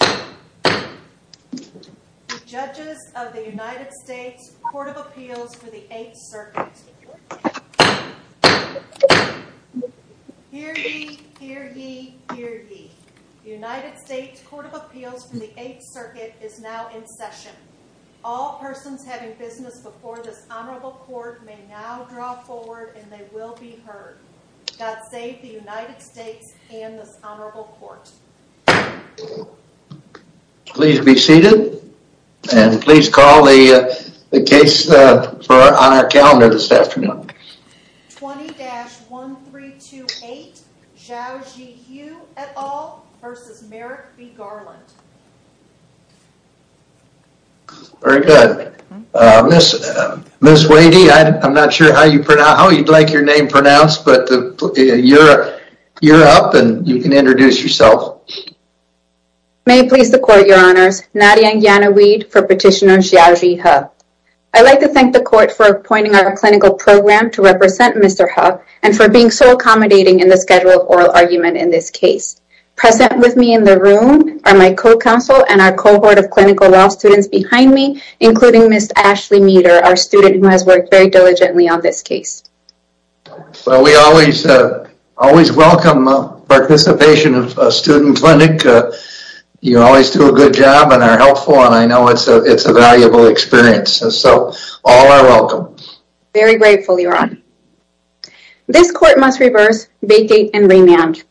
The Judges of the United States Court of Appeals for the Eighth Circuit Hear ye, hear ye, hear ye. The United States Court of Appeals for the Eighth Circuit is now in session. All persons having business before this Honorable Court may now draw forward and they will be heard. God save the United States and this Honorable Court. Please be seated and please call the case on our calendar this afternoon. 20-1328 Zhaojie He et al. v. Merrick B. Garland Very good. Ms. Wadey, I'm not sure how you'd like your name pronounced, but you're up and you can introduce yourself. May it please the Court, Your Honors. Nadia Yanaweed for Petitioner Zhaojie He. I'd like to thank the Court for appointing our clinical program to represent Mr. He and for being so accommodating in the schedule oral argument in this case. Present with me in the room are my co-counsel and our cohort of clinical law students behind me, including Ms. Ashley Meeder, our student who has worked very diligently on this case. Well, we always welcome participation of a student clinic. You always do a good job and are helpful and I know it's a valuable experience. So all are welcome. Very grateful, Your Honor. This Court must reverse, vacate, and remand.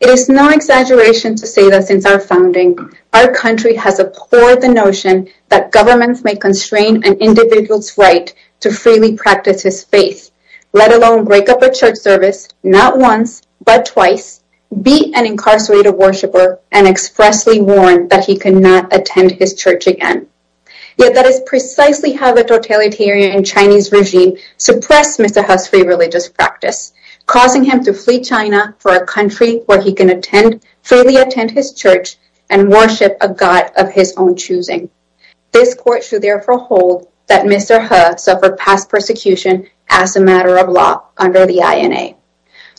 It is no exaggeration to say that since our founding, our country has abhorred the notion that governments may constrain an individual's right to freely practice his faith, let alone break up a church service, not once, but twice, beat an incarcerated worshiper, and expressly warn that he cannot attend his church again. Yet that is precisely how the totalitarian Chinese regime suppressed Mr. He's free religious practice, causing him to flee China for a country where he can freely attend his church and worship a god of his own choosing. This Court should therefore hold that Mr. He suffered past persecution as a matter of law under the INA.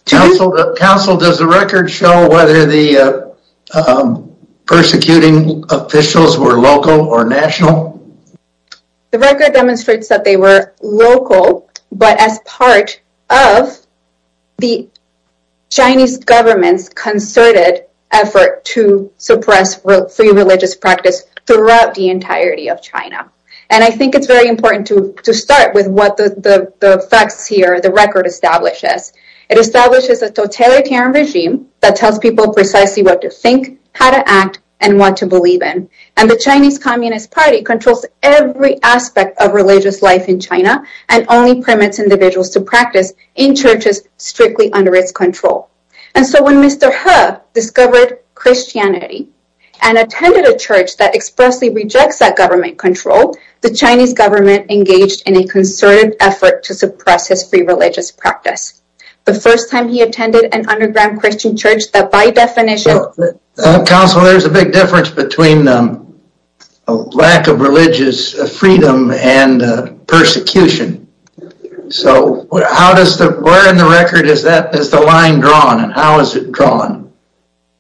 Counsel, does the record show whether the persecuting officials were local or national? The record demonstrates that they were local, but as part of the Chinese government's concerted effort to suppress free religious practice throughout the entirety of China. And I think it's very important to start with what the facts here, the record, establishes. It establishes a totalitarian regime that tells people precisely what to think, how to act, and what to believe in. And the Chinese Communist Party controls every aspect of religious life in China and only permits individuals to practice in churches strictly under its control. And so when Mr. He discovered Christianity and attended a church that expressly rejects that government control, the Chinese government engaged in a concerted effort to suppress his free religious practice. The first time he attended an underground Christian church that by definition... Counsel, there's a big difference between a lack of religious freedom and persecution. So where in the record is the line drawn and how is it drawn?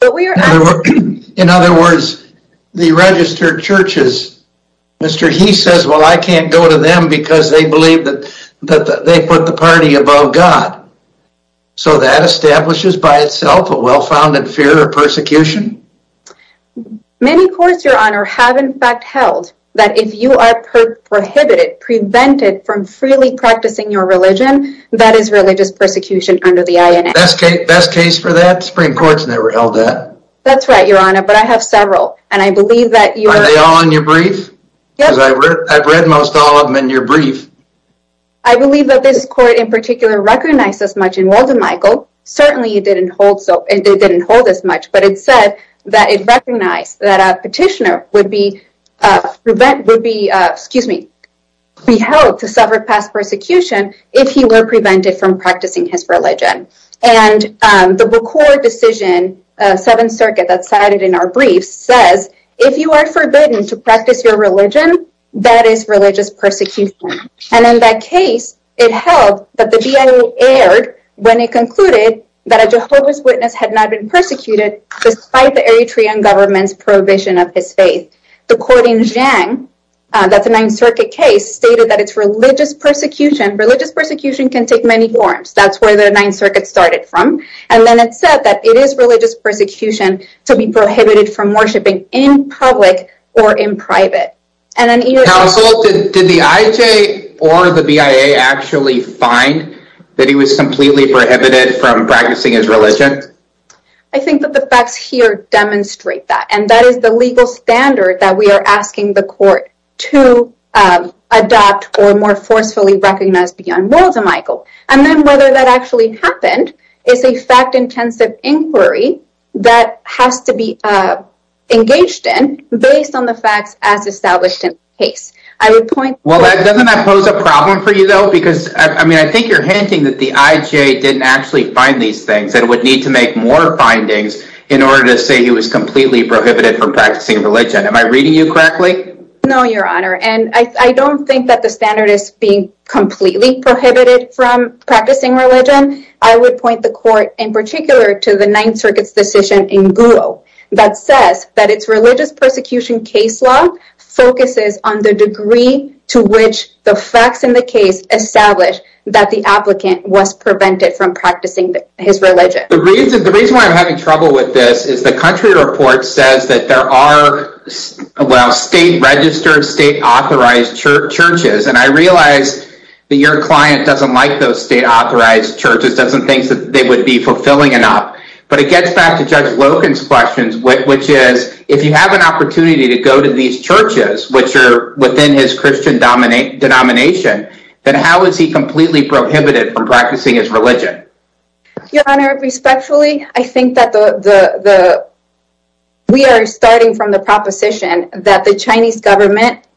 In other words, the registered churches, Mr. He says, well, I can't go to them because they believe that they put the party above God. So that establishes by itself a well-founded fear of persecution? Many courts, Your Honor, have in fact held that if you are prohibited, prevented from freely practicing your religion, that is religious persecution under the INA. Best case for that? Supreme Court's never held that. That's right, Your Honor, but I have several. And I believe that you're... Are they all in your brief? Yep. Because I've read most all of them in your brief. I believe that this court in particular recognized as much involved in Michael. Certainly you didn't hold. So they didn't hold as much. But it said that it recognized that a petitioner would be prevent, would be, excuse me, be held to suffer past persecution if he were prevented from practicing his religion. And the record decision, Seventh Circuit that cited in our brief says, if you are forbidden to practice your religion, that is religious persecution. And in that case, it held that the GIA aired when it concluded that a Jehovah's Witness had not been persecuted despite the Eritrean government's prohibition of his faith. The court in Zhang, that's the Ninth Circuit case, stated that it's religious persecution. Religious persecution can take many forms. That's where the Ninth Circuit started from. And then it said that it is religious persecution to be prohibited from worshiping in public or in private. Counsel, did the IJ or the BIA actually find that he was completely prohibited from practicing his religion? I think that the facts here demonstrate that. And that is the legal standard that we are asking the court to adopt or more forcefully recognize beyond worlds of Michael. And then whether that actually happened is a fact intensive inquiry that has to be engaged in based on the facts as established in the case. I would point. Well, doesn't that pose a problem for you, though? Because, I mean, I think you're hinting that the IJ didn't actually find these things and would need to make more findings in order to say he was completely prohibited from practicing religion. Am I reading you correctly? No, Your Honor. And I don't think that the standard is being completely prohibited from practicing religion. I would point the court in particular to the Ninth Circuit's decision in Google that says that it's religious persecution case law focuses on the degree to which the facts in the case established that the applicant was prevented from practicing his religion. The reason why I'm having trouble with this is the country report says that there are state registered, state authorized churches. And I realize that your client doesn't like those state authorized churches, doesn't think that they would be fulfilling enough. But it gets back to Judge Logan's questions, which is if you have an opportunity to go to these churches, which are within his Christian denomination, then how is he completely prohibited from practicing his religion? Your Honor, respectfully, I think that we are starting from the proposition that the Chinese government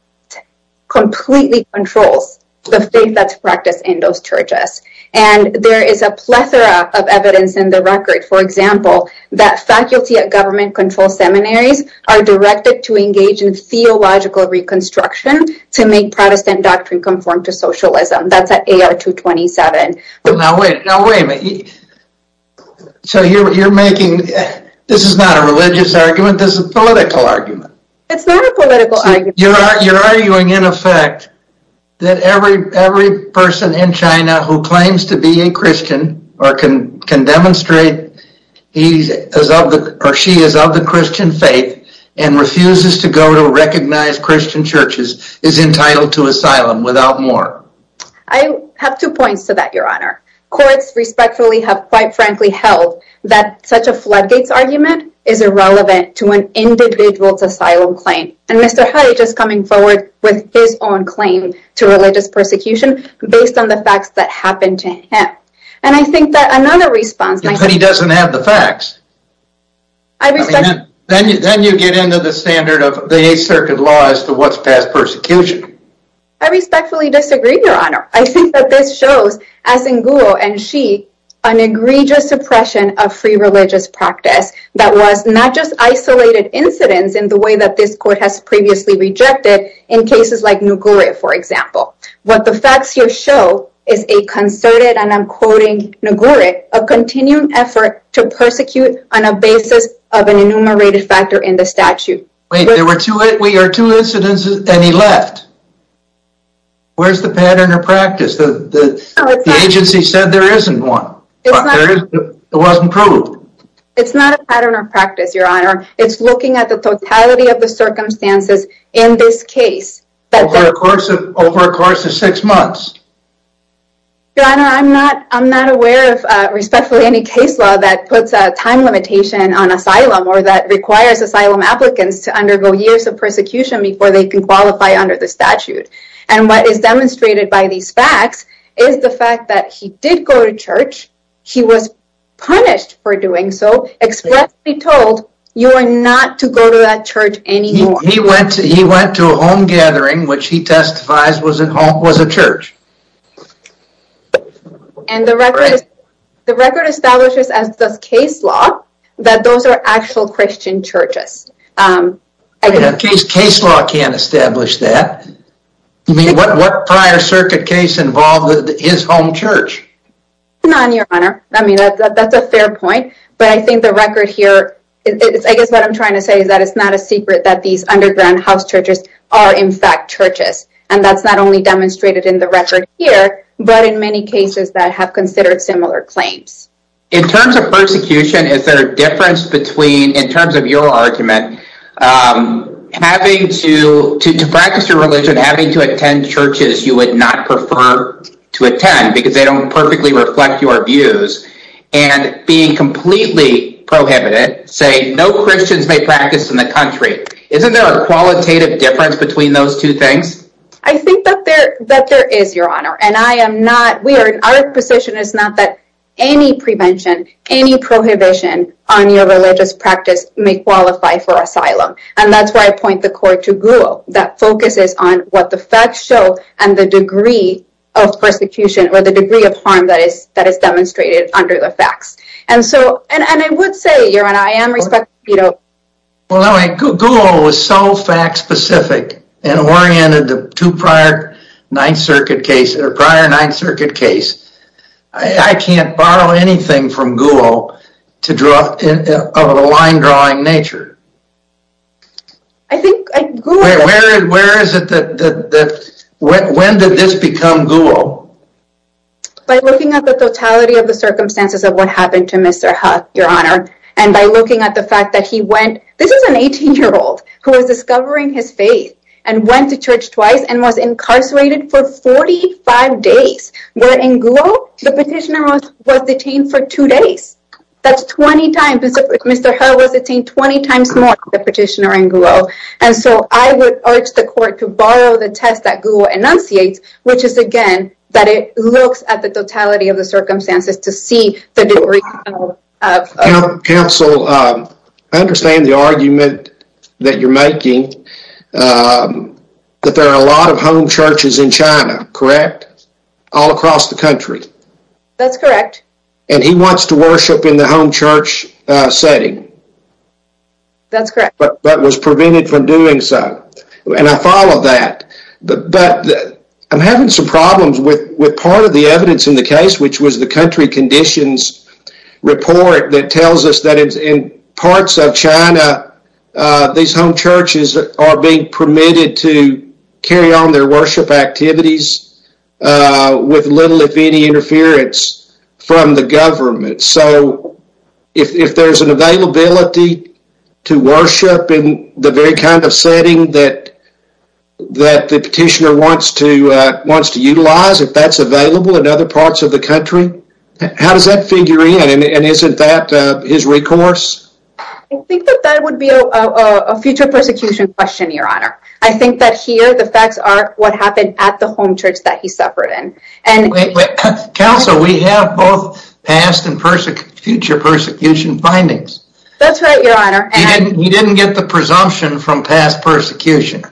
completely controls the faith that's practiced in those churches. And there is a plethora of evidence in the record, for example, that faculty at government-controlled seminaries are directed to engage in theological reconstruction to make Protestant doctrine conform to socialism. That's at AR 227. But now wait, now wait a minute. So you're making, this is not a religious argument, this is a political argument. It's not a political argument. You're arguing, in effect, that every person in China who claims to be a Christian or can demonstrate he or she is of the Christian faith and refuses to go to recognized Christian churches is entitled to asylum without more. I have two points to that, Your Honor. Courts respectfully have quite frankly held that such a floodgates argument is irrelevant to an individual's asylum claim. And Mr. Haidt is coming forward with his own claim to religious persecution based on the facts that happened to him. And I think that another response... But he doesn't have the facts. I respect... Then you get into the standard of the Eighth Circuit law as to what's past persecution. I respectfully disagree, Your Honor. I think that this shows, as in Guo and Xi, an egregious suppression of free religious practice that was not just isolated incidents in the way that this court has previously rejected in cases like Noguri, for example. What the facts here show is a concerted, and I'm quoting Noguri, a continuing effort to persecute on a basis of an enumerated factor in the statute. Wait, there were two incidents and he left. Where's the pattern or practice? The agency said there isn't one. It wasn't proved. It's not a pattern or practice, Your Honor. It's looking at the totality of the circumstances in this case. Over a course of six months. Your Honor, I'm not aware of, respectfully, any case law that puts a time limitation on asylum or that requires asylum applicants to undergo years of persecution before they can qualify under the statute. And what is demonstrated by these facts is the fact that he did go to church. He was punished for doing so, expressly told, you are not to go to that church anymore. He went to a home gathering, which he testifies was a church. And the record establishes, as does case law, that those are actual Christian churches. Case law can't establish that. What prior circuit case involved his home church? None, Your Honor. That's a fair point. But I think the record here, I guess what I'm trying to say is that it's not a secret that these underground house churches are, in fact, churches. And that's not only demonstrated in the record here, but in many cases that have considered similar claims. In terms of persecution, is there a difference between, in terms of your argument, having to practice your religion, having to attend churches you would not prefer to attend because they don't perfectly reflect your views. And being completely prohibited, saying no Christians may practice in the country. Isn't there a qualitative difference between those two things? I think that there is, Your Honor. And I am not, we are, our position is not that any prevention, any prohibition on your religious practice may qualify for asylum. And that's why I point the court to Guo. That focuses on what the facts show and the degree of persecution or the degree of harm that is demonstrated under the facts. And so, and I would say, Your Honor, I am respecting Guido. Guo was so fact-specific and oriented to prior Ninth Circuit case, or prior Ninth Circuit case. I can't borrow anything from Guo to draw, of a line-drawing nature. I think, I, Guo. Where is it that, when did this become Guo? By looking at the totality of the circumstances of what happened to Mr. He, Your Honor. And by looking at the fact that he went, this is an 18-year-old who was discovering his faith. And went to church twice and was incarcerated for 45 days. Where in Guo, the petitioner was detained for two days. That's 20 times, Mr. He was detained 20 times more than the petitioner in Guo. And so, I would urge the court to borrow the test that Guo enunciates. Which is again, that it looks at the totality of the circumstances to see the degree of. Counsel, I understand the argument that you're making. That there are a lot of home churches in China, correct? All across the country. That's correct. And he wants to worship in the home church setting. That's correct. But was prevented from doing so. And I follow that. But, I'm having some problems with part of the evidence in the case. Which was the country conditions report that tells us that in parts of China. These home churches are being permitted to carry on their worship activities. With little if any interference from the government. So, if there's an availability to worship in the very kind of setting that the petitioner wants to utilize. If that's available in other parts of the country. How does that figure in? And isn't that his recourse? I think that that would be a future persecution question, your honor. I think that here the facts are what happened at the home church that he suffered in. Counsel, we have both past and future persecution findings. That's right, your honor. He didn't get the presumption from past persecution.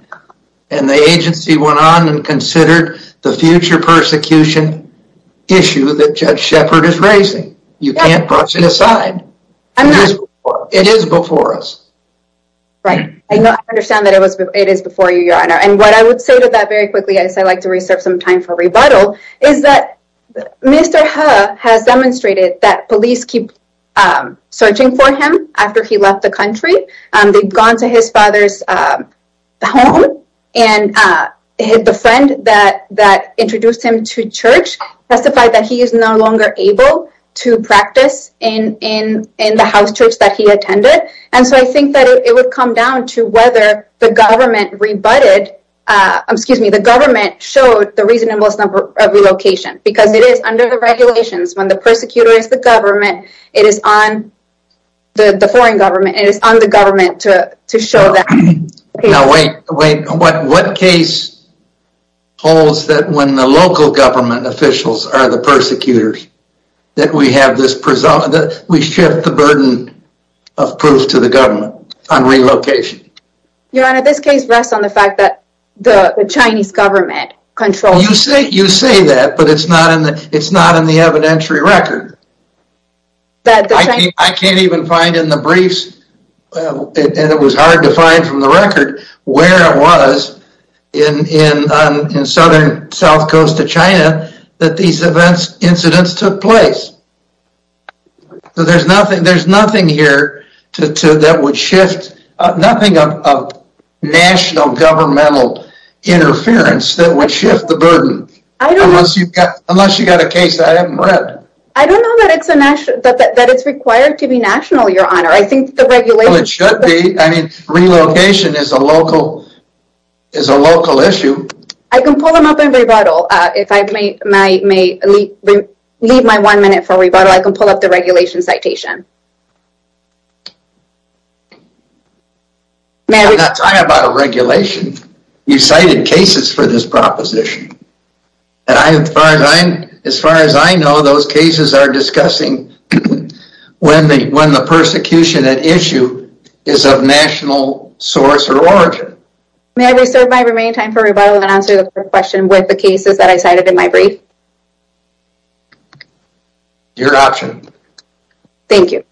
And the agency went on and considered the future persecution issue that Judge Shepard is raising. You can't brush it aside. It is before us. Right. I understand that it is before you, your honor. And what I would say to that very quickly as I like to reserve some time for rebuttal. Is that Mr. He has demonstrated that police keep searching for him after he left the country. They've gone to his father's home. And the friend that introduced him to church testified that he is no longer able to practice in the house church that he attended. And so I think that it would come down to whether the government rebutted, excuse me, the government showed the reasonableness of relocation. Because it is under the regulations when the persecutor is the government, it is on the foreign government. It is on the government to show that. What case holds that when the local government officials are the persecutors that we shift the burden of proof to the government on relocation? Your honor, this case rests on the fact that the Chinese government controls. You say that, but it is not in the evidentiary record. I can't even find in the briefs, and it was hard to find from the record, where it was in southern south coast of China that these events, incidents took place. There's nothing here that would shift, nothing of national governmental interference that would shift the burden. Unless you've got a case that I haven't read. I don't know that it is required to be national, your honor. It should be. Relocation is a local issue. I can pull them up and rebuttal. If I may leave my one minute for rebuttal, I can pull up the regulation citation. I'm not talking about a regulation. You cited cases for this proposition. As far as I know, those cases are discussing when the persecution at issue is of national source or origin. May I reserve my remaining time for rebuttal and answer the question with the cases that I cited in my brief? Your option. Thank you.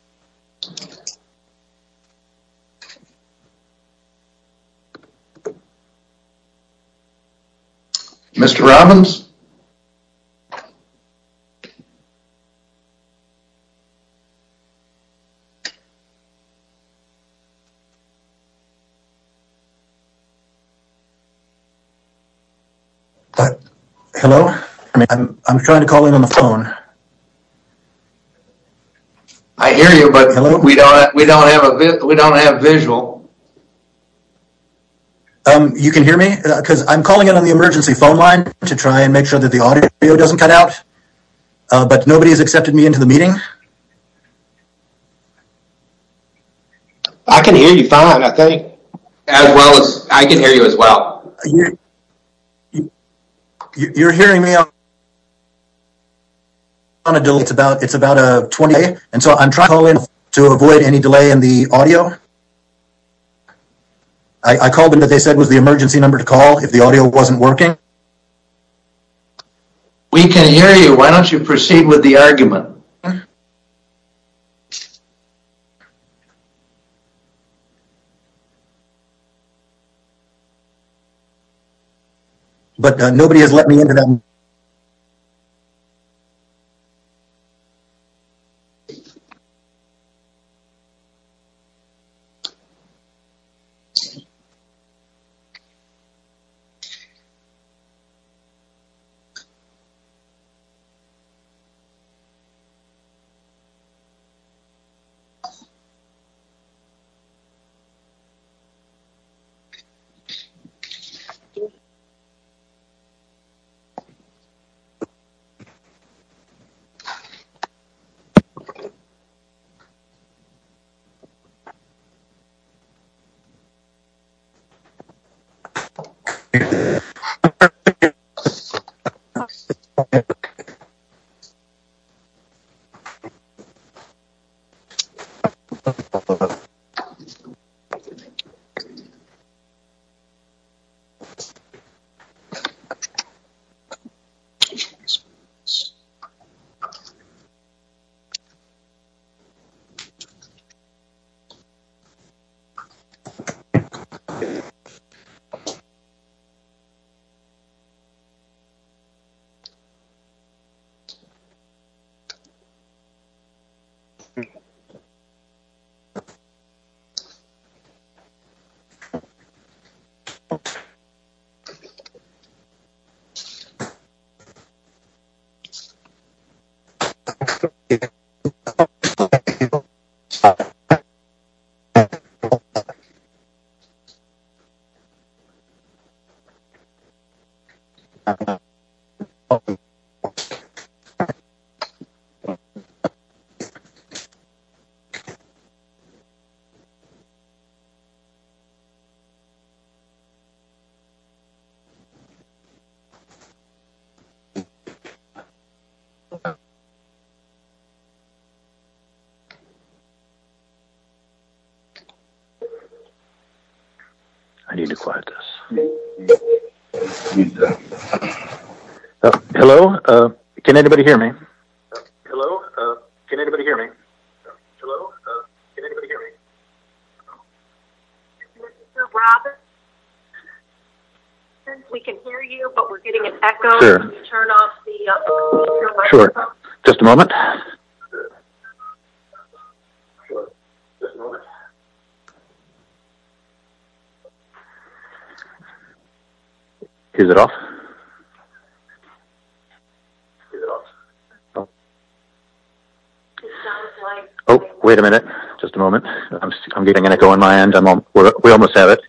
Mr. Robbins? Hello? I'm trying to call in on the phone. I hear you, but we don't have visual. You can hear me? Because I'm calling in on the emergency phone line to try and make sure that the audio doesn't cut out. But nobody has accepted me into the meeting? I can hear you fine, I think. As well as, I can hear you as well. You're hearing me on a delay. It's about a 20 minute delay. So I'm trying to call in to avoid any delay in the audio. I called in because they said it was the emergency number to call if the audio wasn't working. We can hear you. Why don't you proceed with the argument? But nobody has let me into the meeting. Thank you. Okay. Thank you. I need to quiet this. Hello? Can anybody hear me? Hello? Can anybody hear me? Hello? Can anybody hear me? Mr. Robbins? We can hear you, but we're getting an echo. Sure. Just a moment. Is it off? Oh, wait a minute. Just a moment. I'm getting an echo on my end. We almost have it.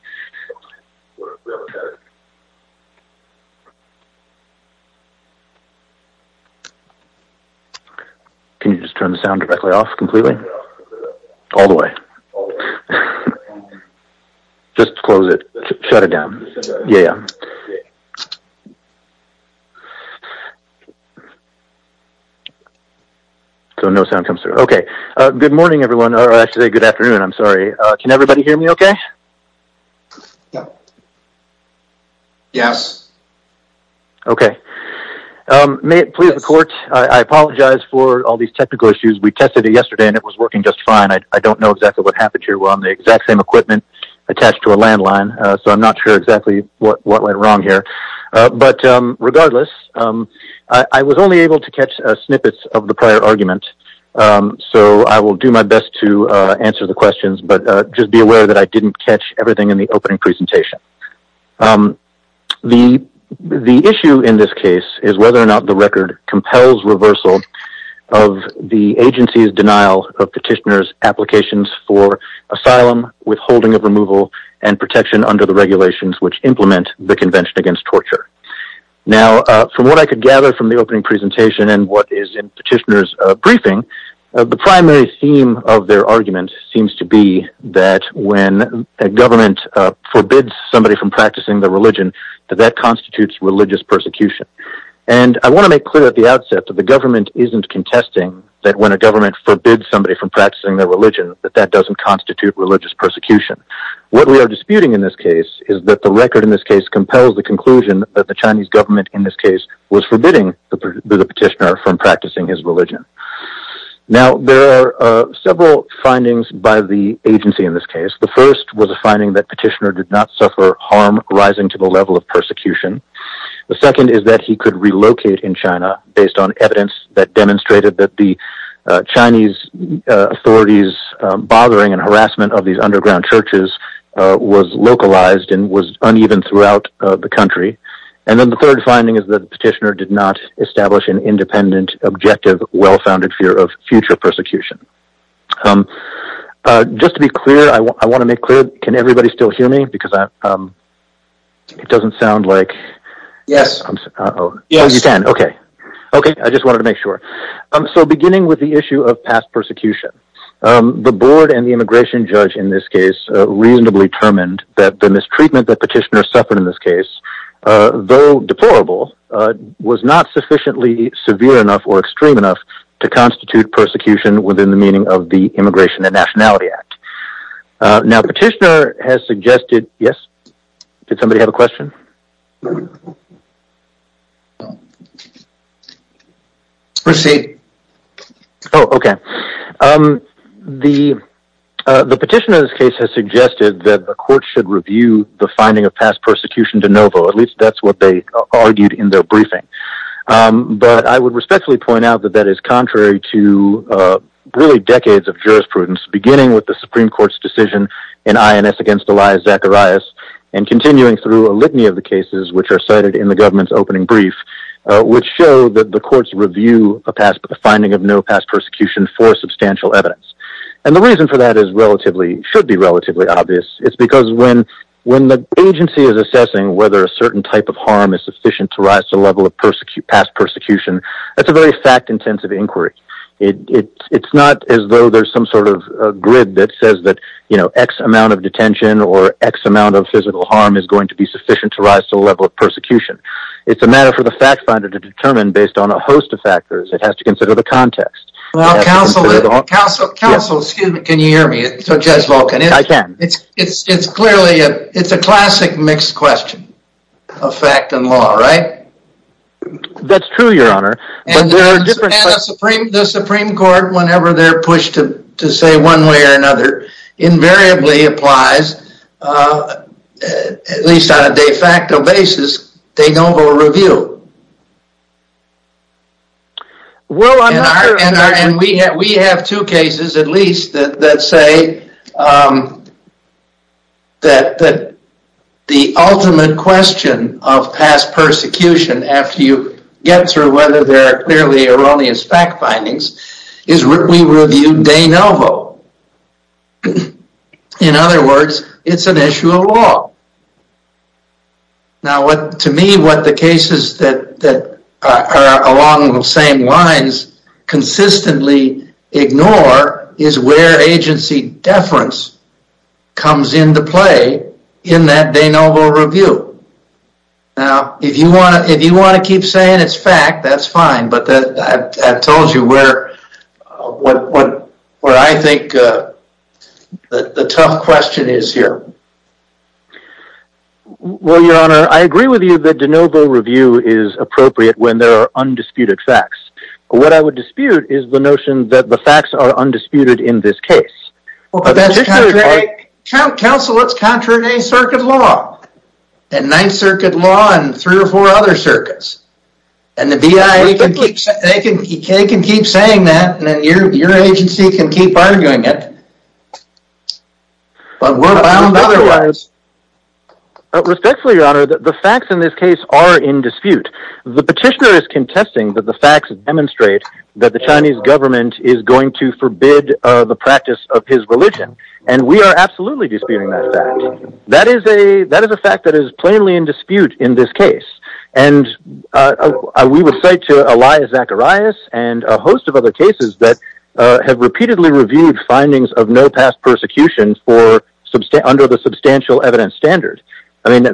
Okay. Can you just turn the sound directly off completely? All the way. Just close it. Shut it down. Yeah, yeah. So no sound comes through. Okay. Good morning, everyone. Actually, good afternoon. I'm sorry. Can everybody hear me okay? Yeah. Yes. Okay. May it please the court. I apologize for all these technical issues. We tested it yesterday and it was working just fine. I don't know exactly what happened here. Well, I'm the exact same equipment attached to a landline. So I'm not sure exactly what went wrong here. But regardless, I was only able to catch snippets of the prior argument. So I will do my best to answer the questions. But just be aware that I didn't catch everything in the opening presentation. The issue in this case is whether or not the record compels reversal of the agency's denial of petitioners' applications for asylum, withholding of removal, and protection under the regulations which implement the Convention Against Torture. Now, from what I could gather from the opening presentation and what is in petitioners' briefing, the primary theme of their argument seems to be that when a government forbids somebody from practicing their religion, that that constitutes religious persecution. And I want to make clear at the outset that the government isn't contesting that when a government forbids somebody from practicing their religion, that that doesn't constitute religious persecution. What we are disputing in this case is that the record in this case compels the conclusion that the Chinese government in this case was forbidding the petitioner from practicing his religion. Now, there are several findings by the agency in this case. The first was a finding that the petitioner did not suffer harm rising to the level of persecution. The second is that he could relocate in China based on evidence that demonstrated that the Chinese authorities' bothering and harassment of these underground churches was localized and was uneven throughout the country. And then the third finding is that the petitioner did not establish an independent, objective, well-founded fear of future persecution. Just to be clear, I want to make clear, can everybody still hear me? Because it doesn't sound like... Yes. Oh, you can. Okay. Okay, I just wanted to make sure. So, beginning with the issue of past persecution. The board and the immigration judge in this case reasonably determined that the mistreatment that petitioner suffered in this case, though deplorable, was not sufficiently severe enough or extreme enough to constitute persecution within the meaning of the Immigration and Nationality Act. Now, petitioner has suggested... Yes? Did somebody have a question? Proceed. Oh, okay. The petitioner's case has suggested that the court should review the finding of past persecution de novo. At least, that's what they argued in their briefing. But I would respectfully point out that that is contrary to really decades of jurisprudence, beginning with the Supreme Court's decision in INS against Elias Zacharias and continuing through a litany of the cases which are cited in the government's opening brief, which show that the courts review a finding of no past persecution for substantial evidence. And the reason for that is relatively... should be relatively obvious. It's because when the agency is assessing whether a certain type of harm is sufficient to rise to the level of past persecution, that's a very fact-intensive inquiry. It's not as though there's some sort of grid that says that, you know, X amount of detention or X amount of physical harm is going to be sufficient to rise to the level of persecution. It's a matter for the fact finder to determine based on a host of factors. It has to consider the context. Well, counsel, excuse me, can you hear me? Judge Volkin? I can. It's clearly a... it's a classic mixed question of fact and law, right? That's true, Your Honor. And the Supreme Court, whenever they're pushed to say one way or another, invariably applies, at least on a de facto basis, they don't go to review. Well, I'm not... And we have two cases, at least, that say that the ultimate question of past persecution, after you get through whether there are clearly erroneous fact findings, is we review de novo. In other words, it's an issue of law. Now, to me, what the cases that are along the same lines consistently ignore is where agency deference comes into play in that de novo review. Now, if you want to keep saying it's fact, that's fine, but I've told you where I think the tough question is here. Well, Your Honor, I agree with you that de novo review is appropriate when there are undisputed facts. What I would dispute is the notion that the facts are undisputed in this case. But that's contrary... Counsel, it's contrary to any circuit law. And Ninth Circuit Law and three or four other circuits. And the BIA can keep saying that, and your agency can keep arguing it. But we're bound otherwise. Respectfully, Your Honor, the facts in this case are in dispute. The petitioner is contesting that the facts demonstrate that the Chinese government is going to forbid the practice of his religion. And we are absolutely disputing that fact. That is a fact that is plainly in dispute in this case. And we would say to Elias Zacharias and a host of other cases that have repeatedly reviewed findings of no past persecution under the substantial evidence standard. I mean,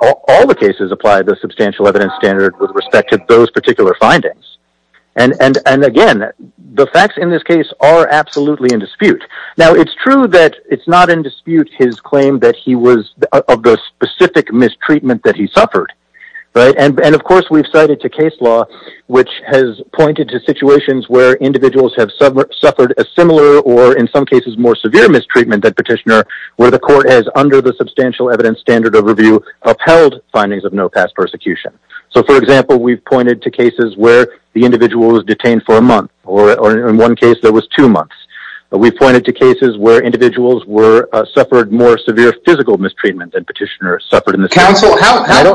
all the cases apply the substantial evidence standard with respect to those particular findings. And again, the facts in this case are absolutely in dispute. Now, it's true that it's not in dispute his claim that he was of the specific mistreatment that he suffered. And, of course, we've cited a case law which has pointed to situations where individuals have suffered a similar or, in some cases, more severe mistreatment than petitioner. Where the court has, under the substantial evidence standard overview, upheld findings of no past persecution. So, for example, we've pointed to cases where the individual was detained for a month. Or, in one case, there was two months. We've pointed to cases where individuals suffered more severe physical mistreatment than petitioner suffered in this case. Counsel, how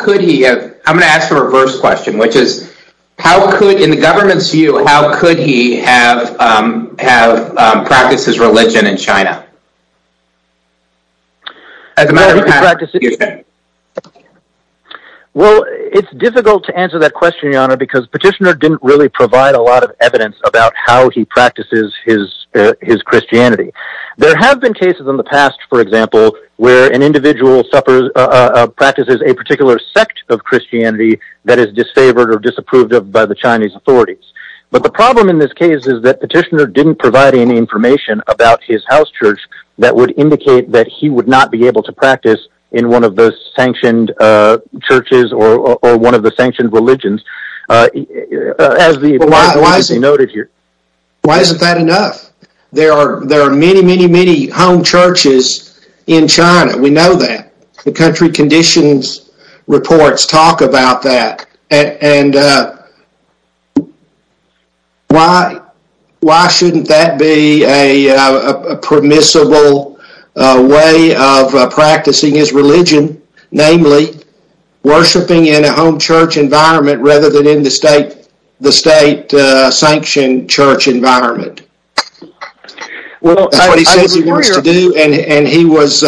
could he have... I'm going to ask a reverse question. Which is, in the government's view, how could he have practiced his religion in China? Well, it's difficult to answer that question, Your Honor, because petitioner didn't really provide a lot of evidence about how he practices his Christianity. There have been cases in the past, for example, where an individual practices a particular sect of Christianity that is disfavored or disapproved of by the Chinese authorities. But the problem in this case is that petitioner didn't provide any information about his house church that would indicate that he would not be able to practice in one of the sanctioned churches or one of the sanctioned religions. Why isn't that enough? There are many, many, many home churches in China. We know that. The country conditions reports talk about that. Why shouldn't that be a permissible way of practicing his religion, namely, worshiping in a home church environment rather than in the state sanctioned church environment? That's what he says he wants to do, and he was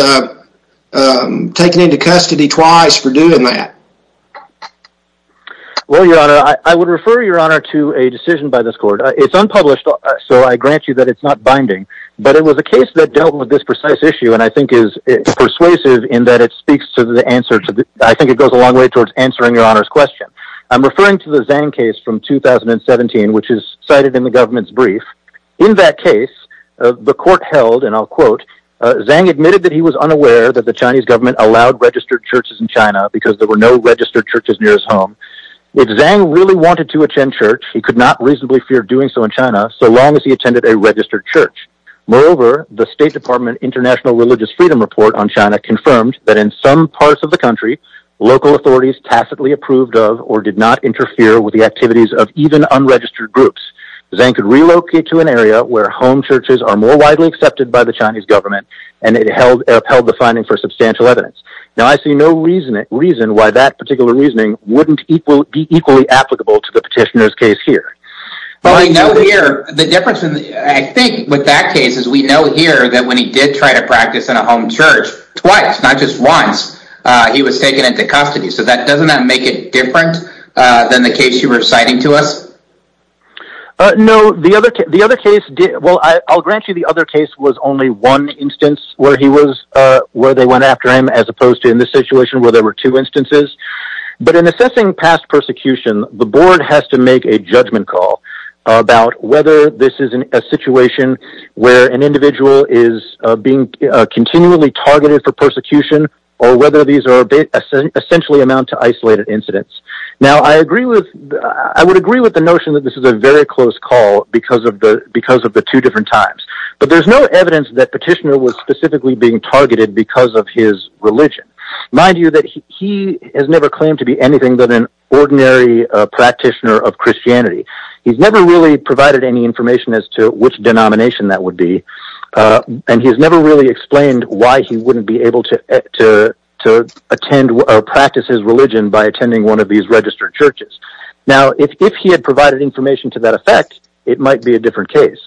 taken into custody twice for doing that. Well, Your Honor, I would refer Your Honor to a decision by this court. It's unpublished, so I grant you that it's not binding. But it was a case that dealt with this precise issue and I think is persuasive in that it speaks to the answer. I think it goes a long way towards answering Your Honor's question. I'm referring to the Zhang case from 2017, which is cited in the government's brief. In that case, the court held, and I'll quote, where home churches are more widely accepted by the Chinese government, and it upheld the finding for substantial evidence. Now, I see no reason why that particular reasoning wouldn't be equally applicable to the petitioner's case here. But we know here, the difference, I think, with that case is we know here that when he did try to practice in a home church twice, not just once, he was taken into custody. So doesn't that make it different than the case you were citing to us? No, the other case, well, I'll grant you the other case was only one instance where he was, where they went after him, as opposed to in this situation where there were two instances. But in assessing past persecution, the board has to make a judgment call about whether this is a situation where an individual is being continually targeted for persecution, or whether these essentially amount to isolated incidents. Now, I agree with, I would agree with the notion that this is a very close call because of the two different times. But there's no evidence that petitioner was specifically being targeted because of his religion. Mind you that he has never claimed to be anything but an ordinary practitioner of Christianity. He's never really provided any information as to which denomination that would be. And he's never really explained why he wouldn't be able to attend or practice his religion by attending one of these registered churches. Now, if he had provided information to that effect, it might be a different case.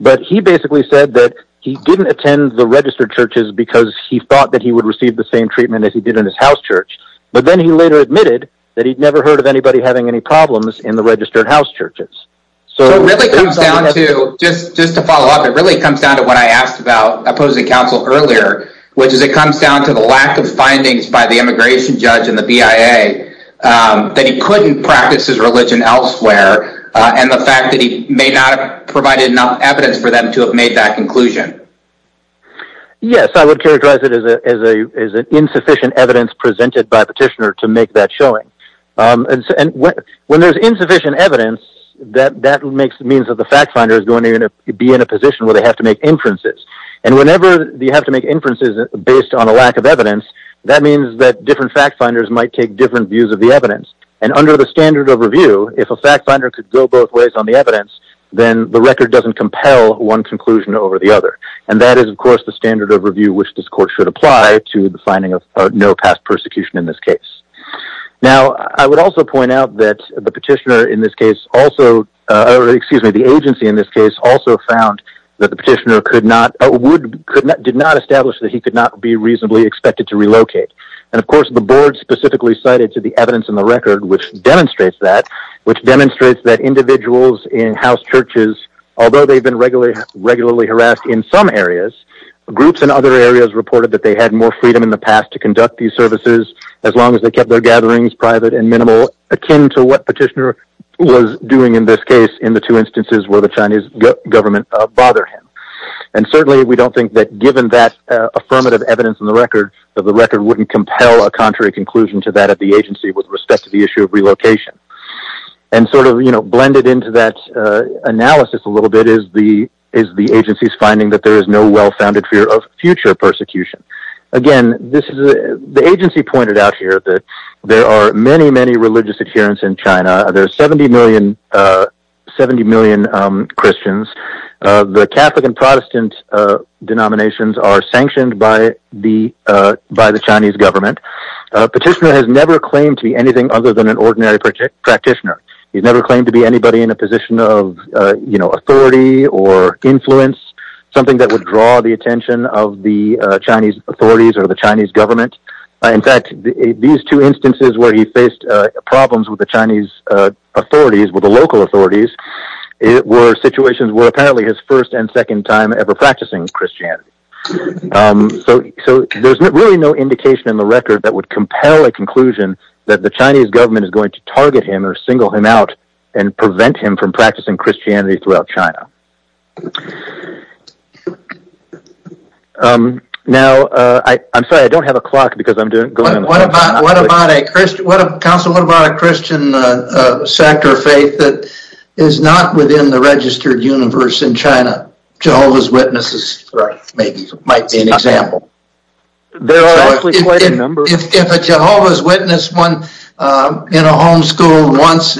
But he basically said that he didn't attend the registered churches because he thought that he would receive the same treatment as he did in his house church. But then he later admitted that he'd never heard of anybody having any problems in the registered house churches. So it really comes down to, just to follow up, it really comes down to what I asked about opposing counsel earlier, which is it comes down to the lack of findings by the immigration judge and the BIA that he couldn't practice his religion elsewhere, and the fact that he may not have provided enough evidence for them to have made that conclusion. Yes, I would characterize it as an insufficient evidence presented by petitioner to make that showing. And when there's insufficient evidence, that makes it mean that the fact finder is going to be in a position where they have to make inferences. And whenever you have to make inferences based on a lack of evidence, that means that different fact finders might take different views of the evidence. And under the standard of review, if a fact finder could go both ways on the evidence, then the record doesn't compel one conclusion over the other. And that is, of course, the standard of review which this court should apply to the finding of no past persecution in this case. Now, I would also point out that the petitioner in this case also, or excuse me, the agency in this case also found that the petitioner could not, did not establish that he could not be reasonably expected to relocate. And of course, the board specifically cited to the evidence in the record which demonstrates that, which demonstrates that individuals in house churches, although they've been regularly harassed in some areas, groups in other areas reported that they had more freedom in the past to conduct these services as long as they kept their gatherings private and minimal, akin to what petitioner was doing in this case in the two instances where the Chinese government bothered him. And certainly, we don't think that given that affirmative evidence in the record, that the record wouldn't compel a contrary conclusion to that of the agency with respect to the issue of relocation. And sort of blended into that analysis a little bit is the agency's finding that there is no well-founded fear of future persecution. Again, the agency pointed out here that there are many, many religious adherents in China. There are 70 million Christians. The Catholic and Protestant denominations are sanctioned by the Chinese government. Petitioner has never claimed to be anything other than an ordinary practitioner. He's never claimed to be anybody in a position of authority or influence, something that would draw the attention of the Chinese authorities or the Chinese government. In fact, these two instances where he faced problems with the Chinese authorities, with the local authorities, were situations where apparently his first and second time ever practicing Christianity. So, there's really no indication in the record that would compel a conclusion that the Chinese government is going to target him or single him out and prevent him from practicing Christianity throughout China. Now, I'm sorry, I don't have a clock because I'm going on the phone. What about a Christian sect or faith that is not within the registered universe in China? Jehovah's Witnesses might be an example. There are actually quite a number. If a Jehovah's Witness went in a homeschool once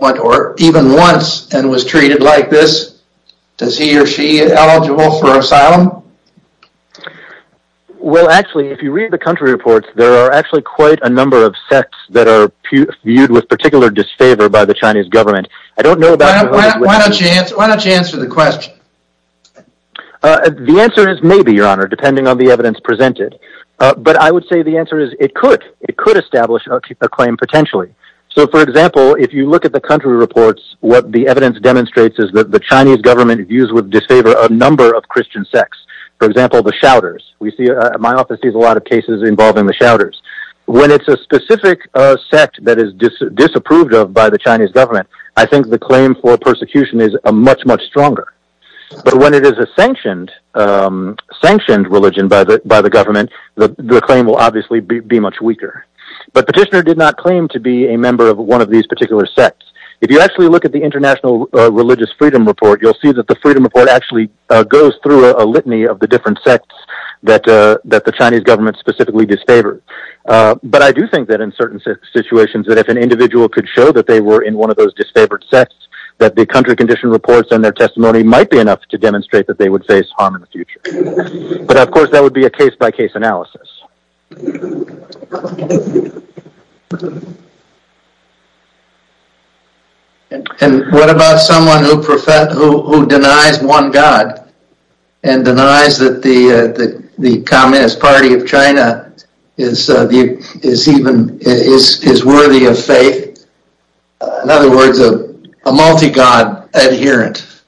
or even once and was treated like this, is he or she eligible for asylum? Well, actually, if you read the country reports, there are actually quite a number of sects that are viewed with particular disfavor by the Chinese government. Why don't you answer the question? The answer is maybe, Your Honor, depending on the evidence presented. But I would say the answer is it could. It could establish a claim potentially. So, for example, if you look at the country reports, what the evidence demonstrates is that the Chinese government views with disfavor a number of Christian sects. For example, the Shouters. My office sees a lot of cases involving the Shouters. When it's a specific sect that is disapproved of by the Chinese government, I think the claim for persecution is much, much stronger. But when it is a sanctioned religion by the government, the claim will obviously be much weaker. But Petitioner did not claim to be a member of one of these particular sects. If you actually look at the International Religious Freedom Report, you'll see that the Freedom Report actually goes through a litany of the different sects that the Chinese government specifically disfavored. But I do think that in certain situations, that if an individual could show that they were in one of those disfavored sects, that the country condition reports and their testimony might be enough to demonstrate that they would face harm in the future. But, of course, that would be a case-by-case analysis. And what about someone who denies one god and denies that the Communist Party of China is worthy of faith? In other words, a multi-god adherent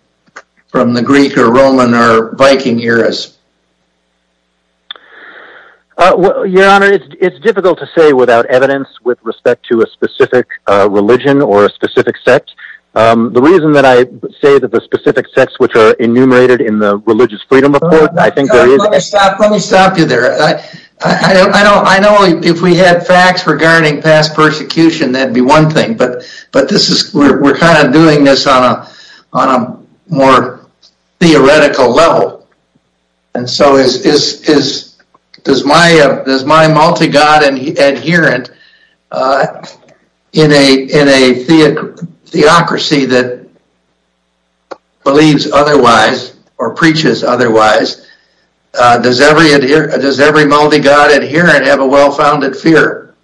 from the Greek or Roman or Viking eras. Your Honor, it's difficult to say without evidence with respect to a specific religion or a specific sect. The reason that I say that the specific sects which are enumerated in the Religious Freedom Report, I think there is... Let me stop you there. I know if we had facts regarding past persecution, that'd be one thing. But we're kind of doing this on a more theoretical level. And so, does my multi-god adherent in a theocracy that believes otherwise or preaches otherwise, does every multi-god adherent have a well-founded fear?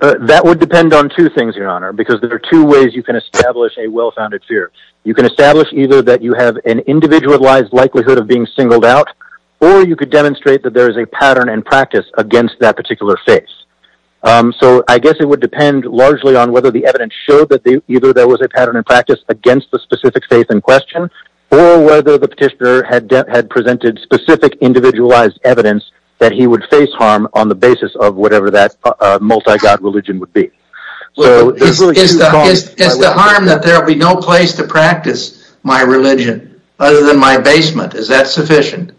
That would depend on two things, Your Honor. Because there are two ways you can establish a well-founded fear. You can establish either that you have an individualized likelihood of being singled out or you could demonstrate that there is a pattern and practice against that particular faith. So, I guess it would depend largely on whether the evidence showed that either there was a pattern and practice against the specific faith in question or whether the petitioner had presented specific individualized evidence that he would face harm on the basis of whatever that multi-god religion would be. Is the harm that there would be no place to practice my religion other than my basement, is that sufficient?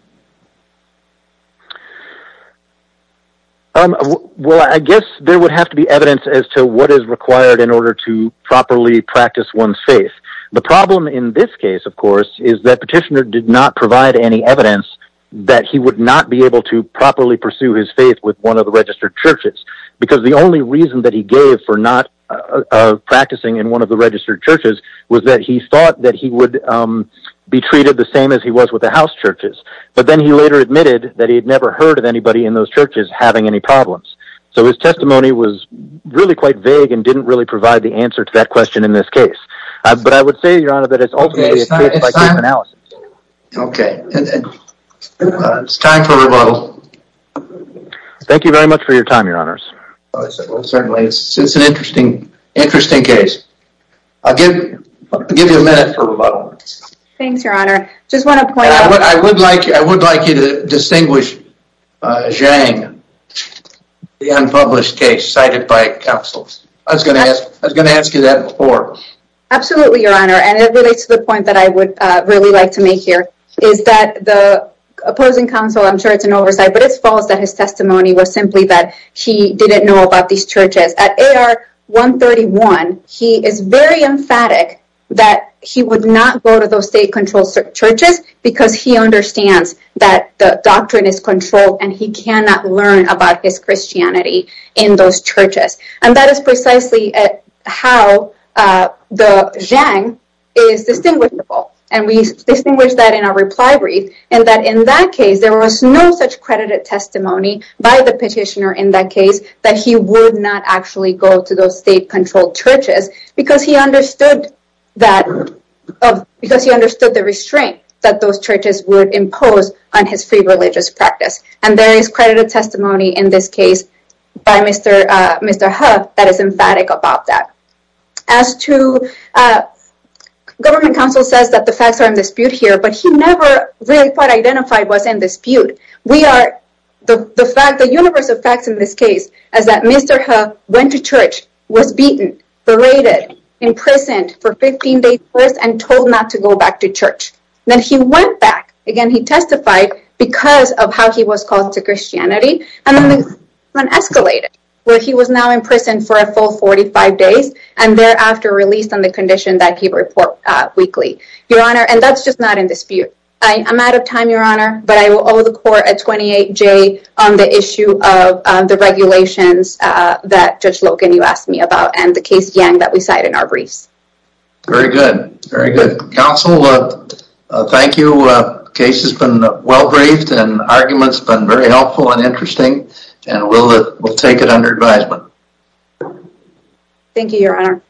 Well, I guess there would have to be evidence as to what is required in order to properly practice one's faith. The problem in this case, of course, is that petitioner did not provide any evidence that he would not be able to properly pursue his faith with one of the registered churches. Because the only reason that he gave for not practicing in one of the registered churches was that he thought that he would be treated the same as he was with the house churches. But then he later admitted that he had never heard of anybody in those churches having any problems. So, his testimony was really quite vague and didn't really provide the answer to that question in this case. But I would say, Your Honor, that it's ultimately a case by case analysis. Okay. It's time for rebuttal. Thank you very much for your time, Your Honors. Certainly. It's an interesting case. I'll give you a minute for rebuttal. Thanks, Your Honor. I would like you to distinguish Zhang, the unpublished case cited by counsel. I was going to ask you that before. Absolutely, Your Honor. And it relates to the point that I would really like to make here. Is that the opposing counsel, I'm sure it's an oversight, but it's false that his testimony was simply that he didn't know about these churches. At AR 131, he is very emphatic that he would not go to those state-controlled churches because he understands that the doctrine is controlled and he cannot learn about his Christianity in those churches. And that is precisely how Zhang is distinguishable. And we distinguish that in our reply brief. And that in that case, there was no such credited testimony by the petitioner in that case that he would not actually go to those state-controlled churches because he understood the restraint that those churches would impose on his free religious practice. And there is credited testimony in this case by Mr. Hu that is emphatic about that. Government counsel says that the facts are in dispute here, but he never really quite identified what's in dispute. The universe of facts in this case is that Mr. Hu went to church, was beaten, berated, imprisoned for 15 days first, and told not to go back to church. Then he went back. Again, he testified because of how he was called to Christianity. And then it escalated, where he was now in prison for a full 45 days. And thereafter, released on the condition that he report weekly. Your Honor, and that's just not in dispute. I'm out of time, Your Honor, but I will owe the court a 28-J on the issue of the regulations that Judge Logan, you asked me about, and the case, Yang, that we cite in our briefs. Very good. Very good. Counsel, thank you. The case has been well-briefed and arguments have been very helpful and interesting. And we'll take it under advisement. Thank you, Your Honor.